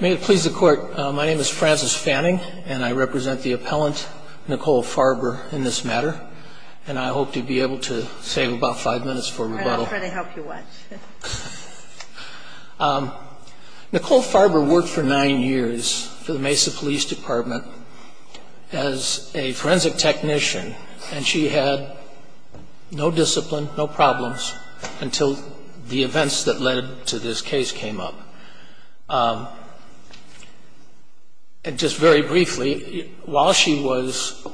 May it please the court, my name is Francis Fanning and I represent the appellant Nicole Farber in this matter and I hope to be able to save about five minutes for rebuttal. Nicole Farber worked for nine years for the Mesa Police Department as a forensic technician and she had no discipline, no and just very briefly while she was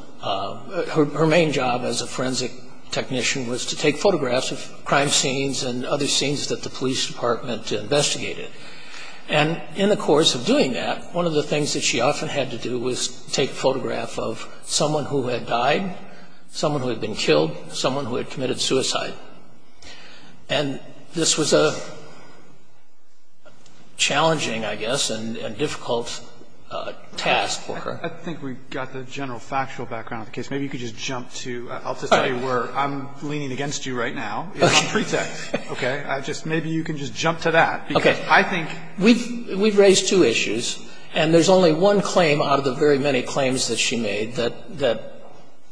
her main job as a forensic technician was to take photographs of crime scenes and other scenes that the police department investigated and in the course of doing that one of the things that she often had to do was take a photograph of someone who had died, someone who had been killed, someone who had committed suicide and this was a challenging I guess and difficult task for her. I think we've got the general factual background of the case, maybe you could just jump to, I'll just tell you where I'm leaning against you right now, pretext okay I just maybe you can just jump to that. Okay I think we've we've raised two issues and there's only one claim out of the very many claims that she made that that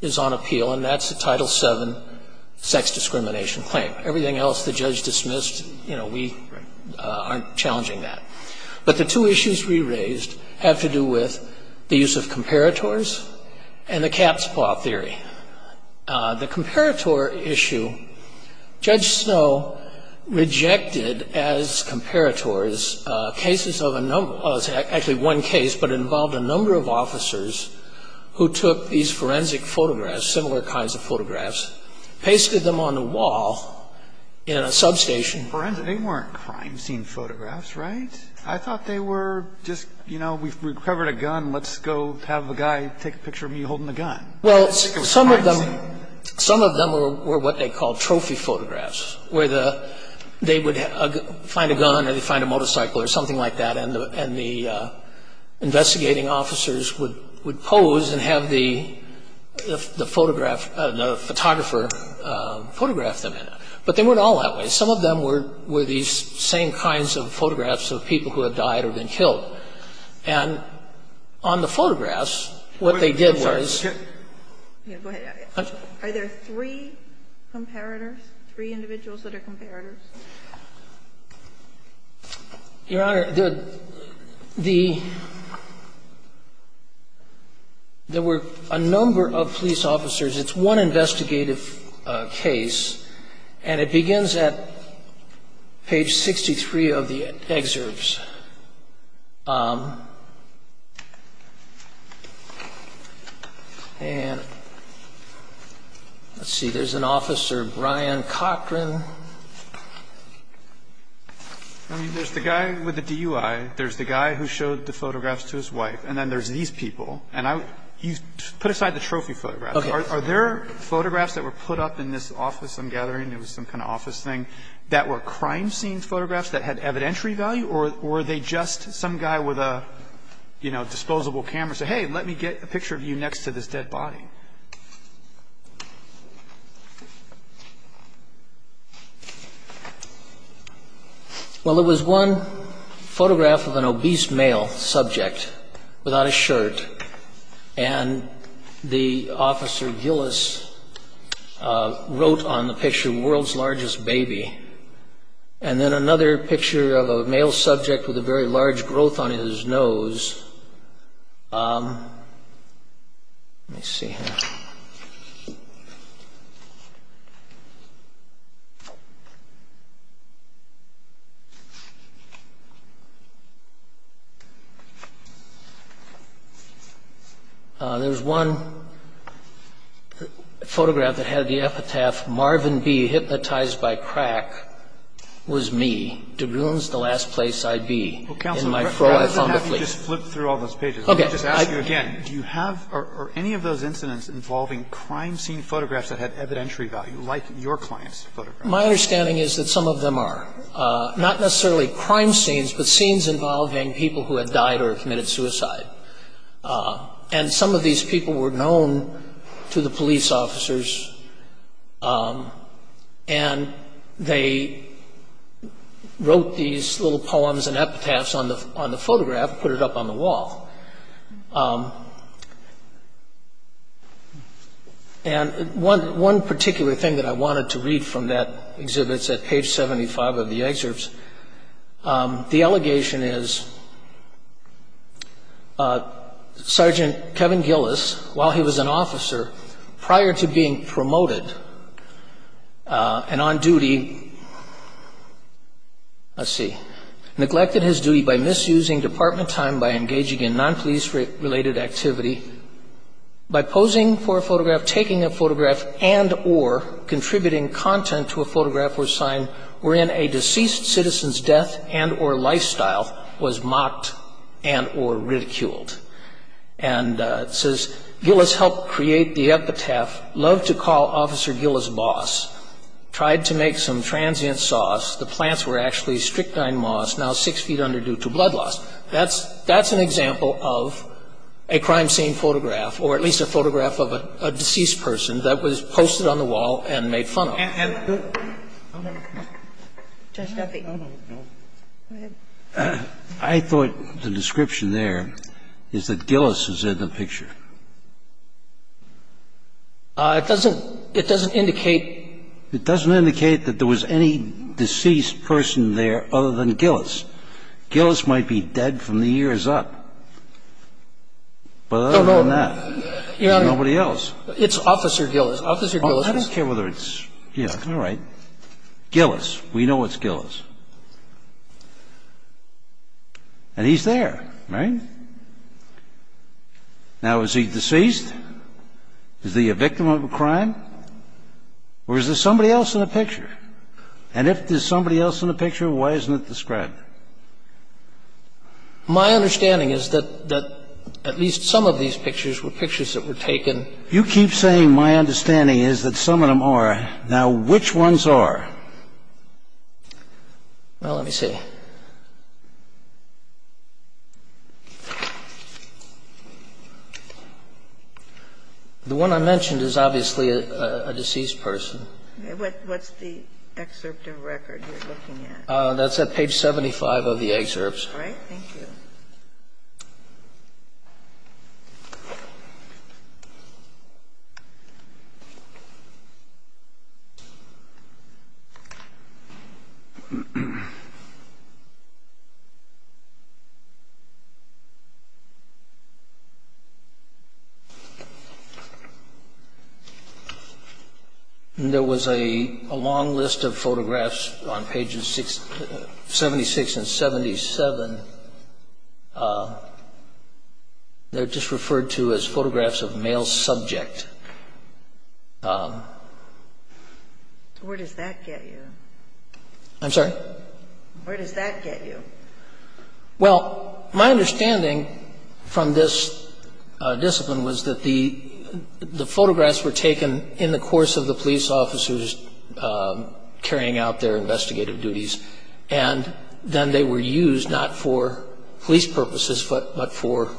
is on appeal and that's the title seven sex discrimination claim. Everything else the judge dismissed you know we aren't challenging that but the two issues we raised have to do with the use of comparators and the cap spot theory. The comparator issue Judge Snow rejected as comparators cases of a number of actually one case but it was a number of officers who took these forensic photographs, similar kinds of photographs, pasted them on the wall in a substation. Forensic, they weren't crime scene photographs right? I thought they were just you know we've recovered a gun let's go have a guy take a picture of me holding the gun. Well some of them some of them were what they called trophy photographs where the they would find a gun or they find a motorcycle or something like that and the investigating officers would would pose and have the photograph the photographer photograph them in it. But they weren't all that way. Some of them were were these same kinds of photographs of people who have died or been killed and on the photographs what they did was. Are there three comparators? Three individuals that are comparators? Your Honor, there were a number of police officers it's one investigative case and it begins at page 63 of the excerpts and let's see there's an officer Brian Cochran. I mean there's the guy with the DUI there's the guy who showed the photographs to his wife and then there's these people and I you put aside the trophy photographs. Are there photographs that were put up in this office I'm gathering it was some kind of office thing that were crime scene photographs that had evidentiary value or were they just some guy with a you know disposable camera say hey let me get a picture of you next to this dead body. Well it was one photograph of an obese male subject without a shirt and the officer Gillis wrote on the picture world's largest baby and then another picture of a male subject with a very large growth on his nose. Let me see here. There's one photograph that had the epitaph Marvin B. hypnotized by crack was me. De Bruyn's the last place I'd be. Well Counselor rather than have you just flip through all those pages let me just ask you again do you have or any of those incidents involving crime scene photographs that had evidentiary value like your clients photographs. My understanding is that some of them are not necessarily crime scenes but scenes involving people who had died or committed suicide. And some of these people were known to the police officers and they wrote these little poems and epitaphs on the photograph and put it up on the wall. And one particular thing that I wanted to read from that exhibit is at page 75 of the excerpts. The allegation is Sergeant Kevin Gillis while he was an officer prior to being promoted and on duty neglected his duty by misusing department time by engaging in non-police related activity by posing for a photograph taking a photograph and or contributing content to a photograph or sign wherein a deceased citizen's death and or lifestyle was mocked and or ridiculed. And it says Gillis helped create the epitaph, loved to call Officer Gillis boss, tried to make some transient sauce, the plants were actually strychnine moss now six feet under due to blood loss. That's an example of a crime scene photograph or at least a photograph of a deceased person that was posted on the wall and made fun of. I thought the description there is that Gillis is in the picture. It doesn't, it doesn't indicate. It doesn't indicate that there was any deceased person there other than Gillis. Gillis might be dead from the years up. But other than that, there's nobody else. Your Honor, it's Officer Gillis. I don't care whether it's, yeah, all right. Gillis. We know it's Gillis. And he's there, right? Now, is he deceased? Is he a victim of a crime? Or is there somebody else in the picture? And if there's somebody else in the picture, why isn't it described? My understanding is that at least some of these pictures were pictures that were taken. You keep saying my understanding is that some of them are. Now, which ones are? Well, let me see. The one I mentioned is obviously a deceased person. What's the excerpt of record you're looking at? That's at page 75 of the excerpts. All right. Thank you. Thank you, Your Honor. They're just referred to as photographs of male subject. Where does that get you? I'm sorry? Where does that get you? Well, my understanding from this discipline was that the photographs were taken in the course of the police officers carrying out their investigative duties. And then they were used not for police purposes, but for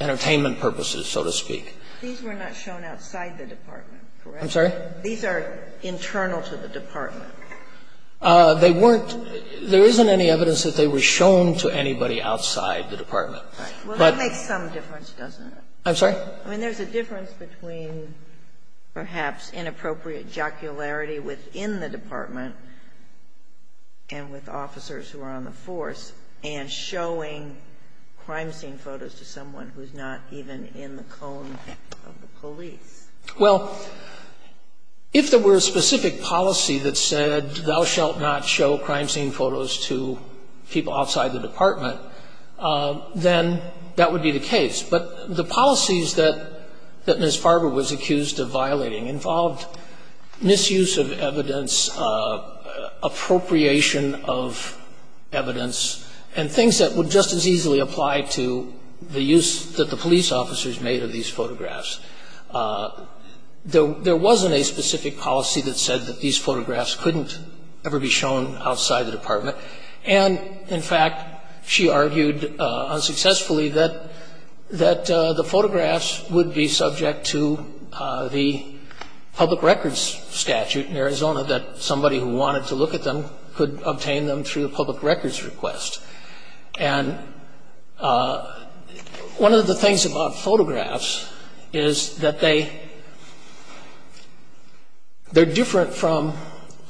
entertainment purposes, so to speak. These were not shown outside the department, correct? I'm sorry? These are internal to the department. They weren't. There isn't any evidence that they were shown to anybody outside the department. Right. Well, that makes some difference, doesn't it? I'm sorry? I mean, there's a difference between perhaps inappropriate jocularity within the department and with officers who are on the force and showing crime scene photos to someone who's not even in the cone of the police. Well, if there were a specific policy that said, thou shalt not show crime scene photos to people outside the department, then that would be the case. But the policies that Ms. Farber was accused of violating involved misuse of evidence, appropriation of evidence, and things that would just as easily apply to the use that the police officers made of these photographs. There wasn't a specific policy that said that these photographs couldn't ever be shown outside the department. And, in fact, she argued unsuccessfully that the photographs would be subject to the public records statute in Arizona, that somebody who wanted to look at them could obtain them through a public records request. And one of the things about photographs is that they're different from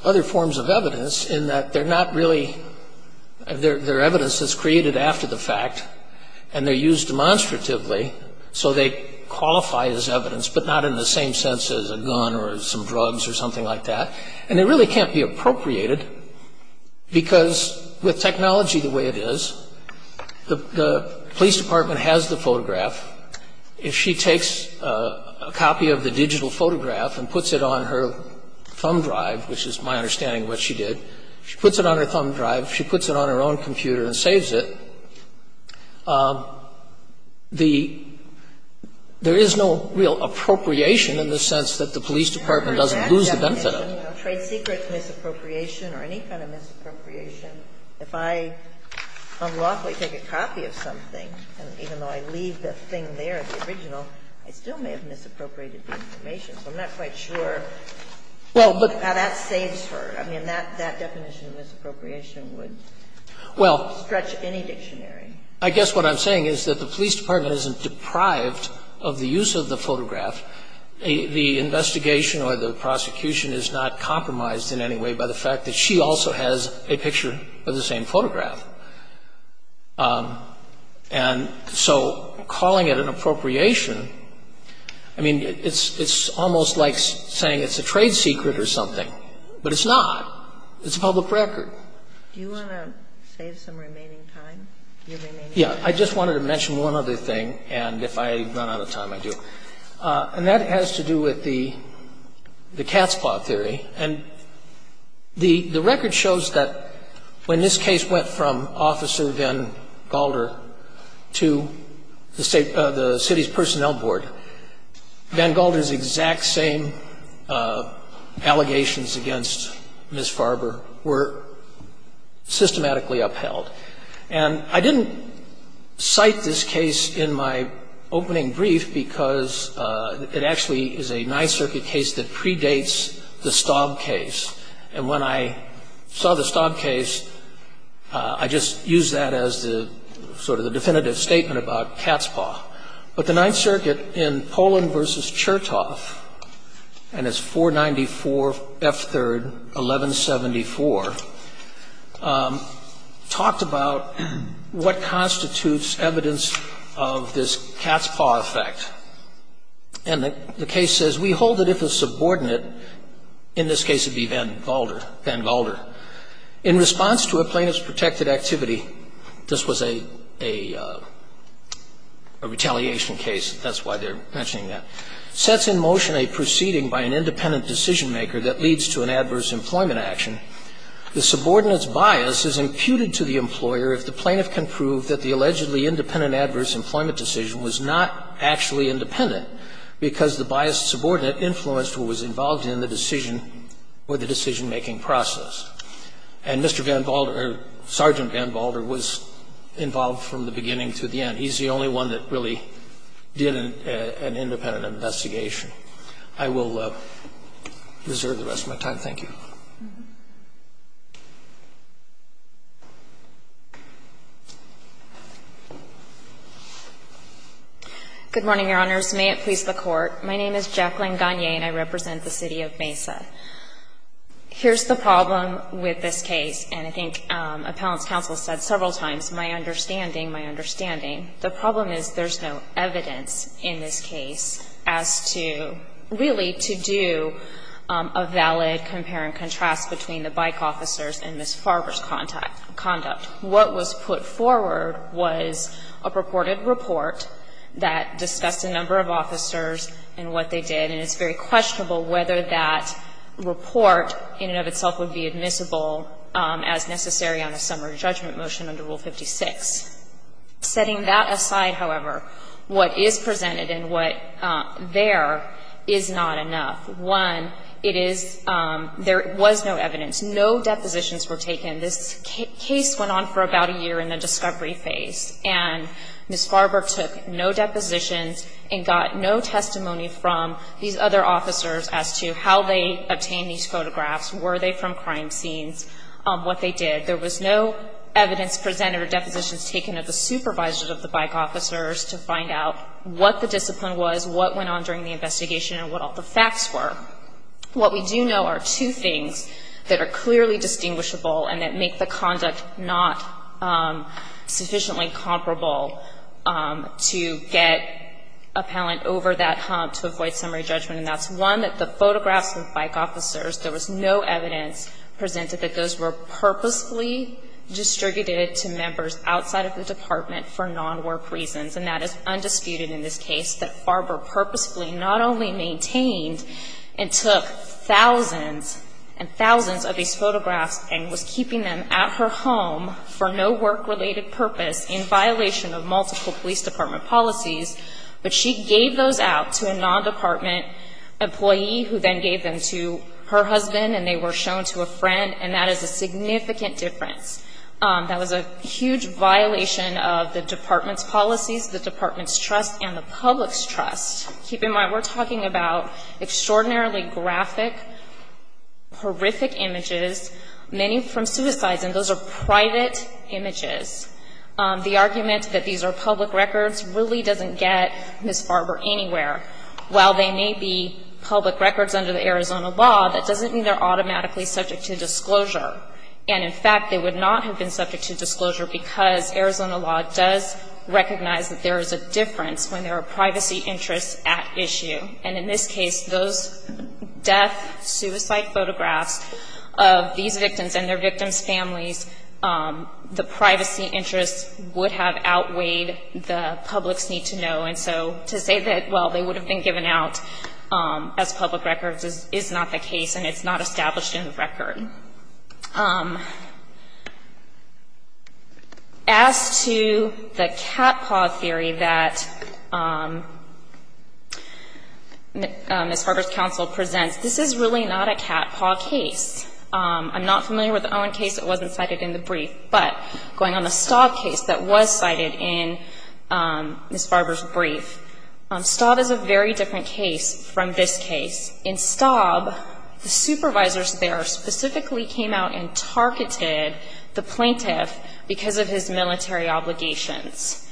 other forms of evidence in that they're evidence that's created after the fact and they're used demonstratively, so they qualify as evidence but not in the same sense as a gun or some drugs or something like that. And they really can't be appropriated because, with technology the way it is, the police department has the photograph. If she takes a copy of the digital photograph and puts it on her thumb drive, which is my understanding of what she did, she puts it on her thumb drive, she puts it on her own computer and saves it, there is no real appropriation in the sense that the police department doesn't lose the benefit of it. Sotomayor, you know, trade secrets misappropriation or any kind of misappropriation, if I unlawfully take a copy of something, and even though I leave the thing there, the original, I still may have misappropriated the information, so I'm not quite sure how that saves her. I mean, that definition of misappropriation would stretch any dictionary. I guess what I'm saying is that the police department isn't deprived of the use of the photograph. The investigation or the prosecution is not compromised in any way by the fact that she also has a picture of the same photograph. And so calling it an appropriation, I mean, it's almost like saying it's a trade secret or something, but it's not. It's a public record. Do you want to save some remaining time? Yeah, I just wanted to mention one other thing, and if I run out of time, I do. And that has to do with the cat's claw theory. And the record shows that when this case went from Officer Van Galder to the city's personnel board, Van Galder's exact same allegations against Ms. Farber were systematically upheld. And I didn't cite this case in my opening brief because it actually is a Ninth Circuit case that predates the Staub case. And when I saw the Staub case, I just used that as the sort of the definitive statement about cat's claw. But the Ninth Circuit in Poland v. Chertoff, and it's 494 F. 3rd, 1174, talked about what constitutes evidence of this cat's claw effect. And the case says, We hold that if a subordinate, in this case it would be Van Galder, Van Galder, in response to a plaintiff's protected activity, this was a retaliation case, that's why they're mentioning that, sets in motion a proceeding by an independent decision-maker that leads to an adverse employment action. The subordinate's bias is imputed to the employer if the plaintiff can prove that the allegedly independent adverse employment decision was not actually independent because the biased subordinate influenced what was involved in the decision or the decision-making process. And Mr. Van Galder, or Sergeant Van Galder, was involved from the beginning to the end. He's the only one that really did an independent investigation. I will reserve the rest of my time. Thank you. Ms. Gagne. Good morning, Your Honors. May it please the Court. My name is Jacqueline Gagne, and I represent the City of Mesa. Here's the problem with this case, and I think appellant's counsel said several times, my understanding, my understanding. The problem is there's no evidence in this case as to, really, to do a valid compare and contrast between the bike officers and Ms. Farber's conduct. What was put forward was a purported report that discussed a number of officers and what they did, and it's very questionable whether that report in and of itself would be admissible as necessary on a summary judgment motion under Rule 56. Setting that aside, however, what is presented and what there is not enough. One, it is, there was no evidence. No depositions were taken. This case went on for about a year in the discovery phase, and Ms. Farber took no depositions and got no testimony from these other officers as to how they obtained these photographs, were they from crime scenes, what they did. There was no evidence presented or depositions taken of the supervisors of the bike officers to find out what the discipline was, what went on during the investigation, and what all the facts were. What we do know are two things that are clearly distinguishable and that make the conduct not sufficiently comparable to get a palant over that hump to avoid summary judgment, and that's, one, that the photographs of the bike officers, there was no evidence presented that those were purposely distributed to members outside of the department for non-work reasons, and that is undisputed in this case, that Farber purposefully not only maintained and took thousands and thousands of these photographs and was keeping them at her home for no work-related purpose in violation of multiple police department policies, but she gave those out to a non-department employee who then gave them to her husband, and they were shown to a friend, and that is a significant difference. That was a huge violation of the department's policies, the department's trust, and the public's trust. Keep in mind, we're talking about extraordinarily graphic, horrific images, many from suicides, and those are private images. The argument that these are public records really doesn't get Ms. Farber anywhere. While they may be public records under the Arizona law, that doesn't mean they're automatically subject to disclosure, and in fact, they would not have been subject to disclosure because Arizona law does recognize that there is a difference when there are privacy interests at issue, and in this case, those death-suicide photographs of these victims and their victims' families, the privacy interests would have outweighed the public's need to know, and so to say that, well, they would have been given out as public records is not the case, and it's not established in the record. As to the catpaw theory that Ms. Farber's counsel presents, this is really not a catpaw case. I'm not familiar with the Owen case that wasn't cited in the brief, but going on the Staub case that was cited in Ms. Farber's brief, Staub is a very well-known case in Arizona, and it was a case in which the plaintiff's lawyers there specifically came out and targeted the plaintiff because of his military obligations,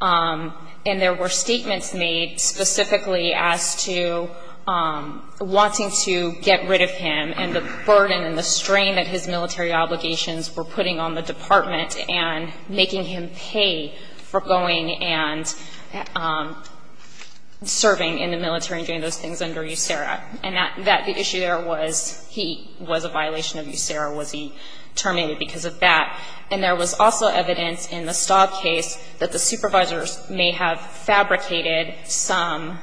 and there were statements made specifically as to wanting to get rid of him and the burden and the strain that his military obligations were putting on the department and making him pay for going and serving in the military and doing those things under USERRA, and that the issue there was he was a violation of USERRA. Was he terminated because of that? And there was also evidence in the Staub case that the supervisors may have fabricated some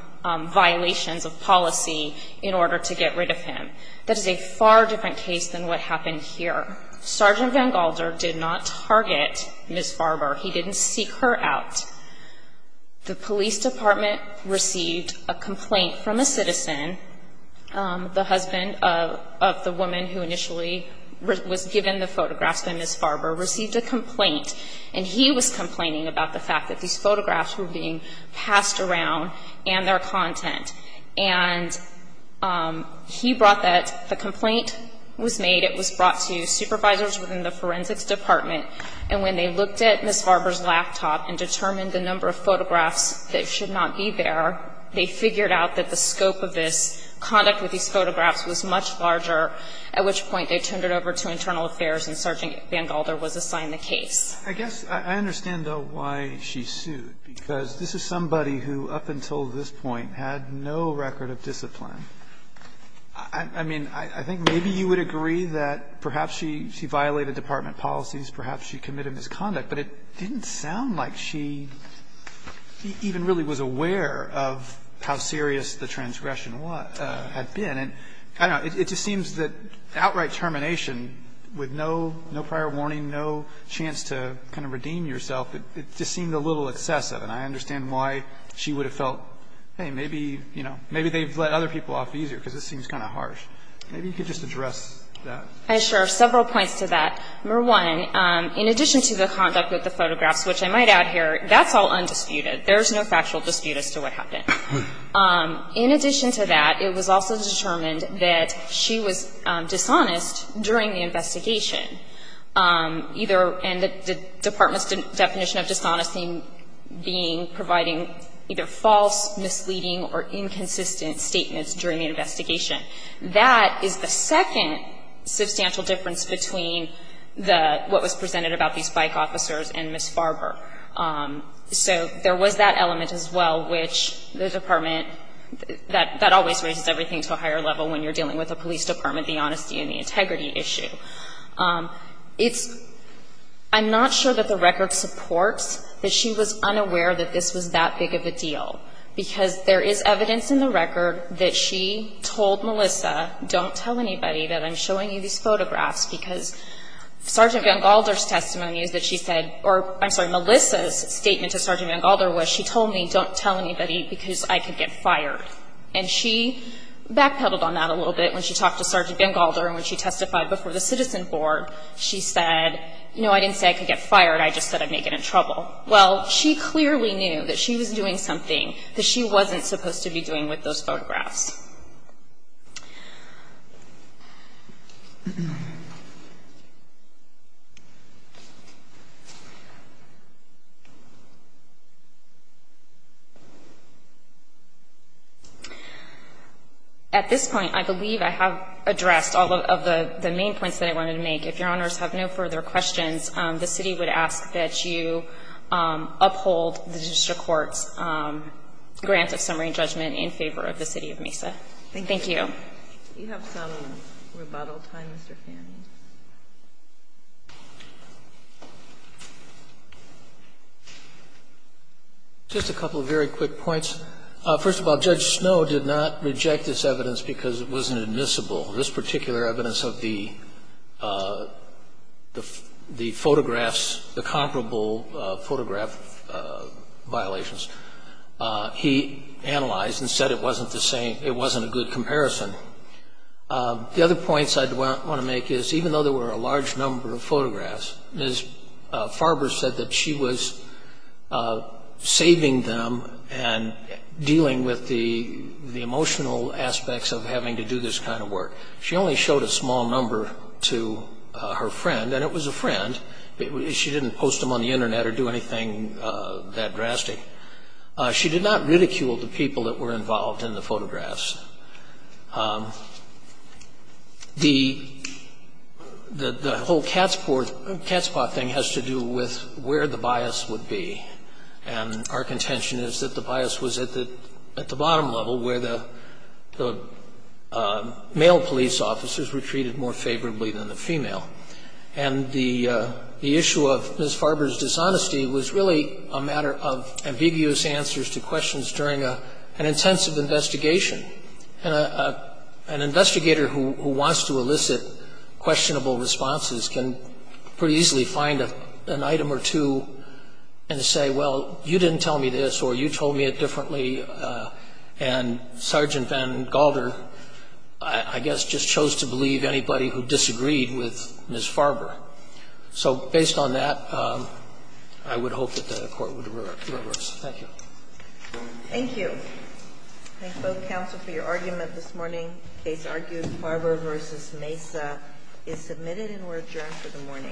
violations of policy in order to get rid of him. That is a far different case than what happened here. Sergeant Van Galder did not target Ms. Farber. He didn't seek her out. The police department received a complaint from a citizen, the husband of the woman who initially was given the photographs by Ms. Farber, received a complaint, and he was complaining about the fact that these photographs were being passed around and their content. And he brought that. The complaint was made. It was brought to supervisors within the forensics department, and when they looked at Ms. Farber's laptop and determined the number of photographs that should not be there, they figured out that the scope of this conduct with these photographs was much larger, at which point they turned it over to internal affairs, and Sergeant Van Galder was assigned the case. I guess I understand, though, why she sued, because this is somebody who up until this point had no record of discipline. I mean, I think maybe you would agree that perhaps she violated department policies, perhaps she committed misconduct, but it didn't sound like she even really was aware of how serious the transgression had been. And I don't know. It just seems that outright termination with no prior warning, no chance to kind of redeem yourself, it just seemed a little excessive. And I understand why she would have felt, hey, maybe, you know, maybe they've let other people off easier, because this seems kind of harsh. Maybe you could just address that. I share several points to that. Number one, in addition to the conduct with the photographs, which I might add here, that's all undisputed. There's no factual dispute as to what happened. In addition to that, it was also determined that she was dishonest during the investigation, either in the department's definition of dishonesty being providing either false, misleading, or inconsistent statements during the investigation. That is the second substantial difference between the, what was presented about these bike officers and Ms. Farber. So there was that element as well, which the department, that always raises everything to a higher level when you're dealing with a police department, the honesty and the integrity issue. It's, I'm not sure that the record supports that she was unaware that this was that big of a deal, because there is evidence in the record that she told Melissa, don't tell anybody that I'm showing you these photographs, because Sergeant VanGalder's testimony is that she said, or I'm sorry, Melissa's statement to Sergeant VanGalder was, she told me, don't tell anybody, because I could get fired. And she backpedaled on that a little bit when she talked to Sergeant VanGalder and when she testified before the citizen board. She said, no, I didn't say I could get fired. I just said I'd make it in trouble. Well, she clearly knew that she was doing something that she wasn't supposed to be doing with those photographs. At this point, I believe I have addressed all of the main points that I wanted to make. If your honors have no further questions, the city would ask that you uphold the district court's grant of summary judgment in favor of the city of Mesa. Thank you. Thank you. Do you have some rebuttal time, Mr. Fanning? Just a couple of very quick points. First of all, Judge Snow did not reject this evidence because it wasn't admissible. This particular evidence of the photographs, the comparable photograph violations, he analyzed and said it wasn't a good comparison. The other points I want to make is, even though there were a large number of photographs, Ms. Farber said that she was saving them and dealing with the emotional aspects of having to do this kind of work. She only showed a small number to her friend, and it was a friend. She didn't post them on the Internet or do anything that drastic. She did not ridicule the people that were involved in the photographs. The whole cat's paw thing has to do with where the bias would be. And our contention is that the bias was at the bottom level, where the male police officers were treated more favorably than the female. And the issue of Ms. Farber's dishonesty was really a matter of ambiguous answers to questions during an intensive investigation. An investigator who wants to elicit questionable responses can pretty easily find an item or two and say, well, you didn't tell me this, or you told me it differently, and Sergeant Van Galder, I guess, just chose to believe anybody who disagreed with Ms. Farber. So based on that, I would hope that the Court would reverse. Thank you. Thank you. I thank both counsel for your argument this morning. The case argued, Farber v. Mesa, is submitted and will adjourn for the morning. Thank you.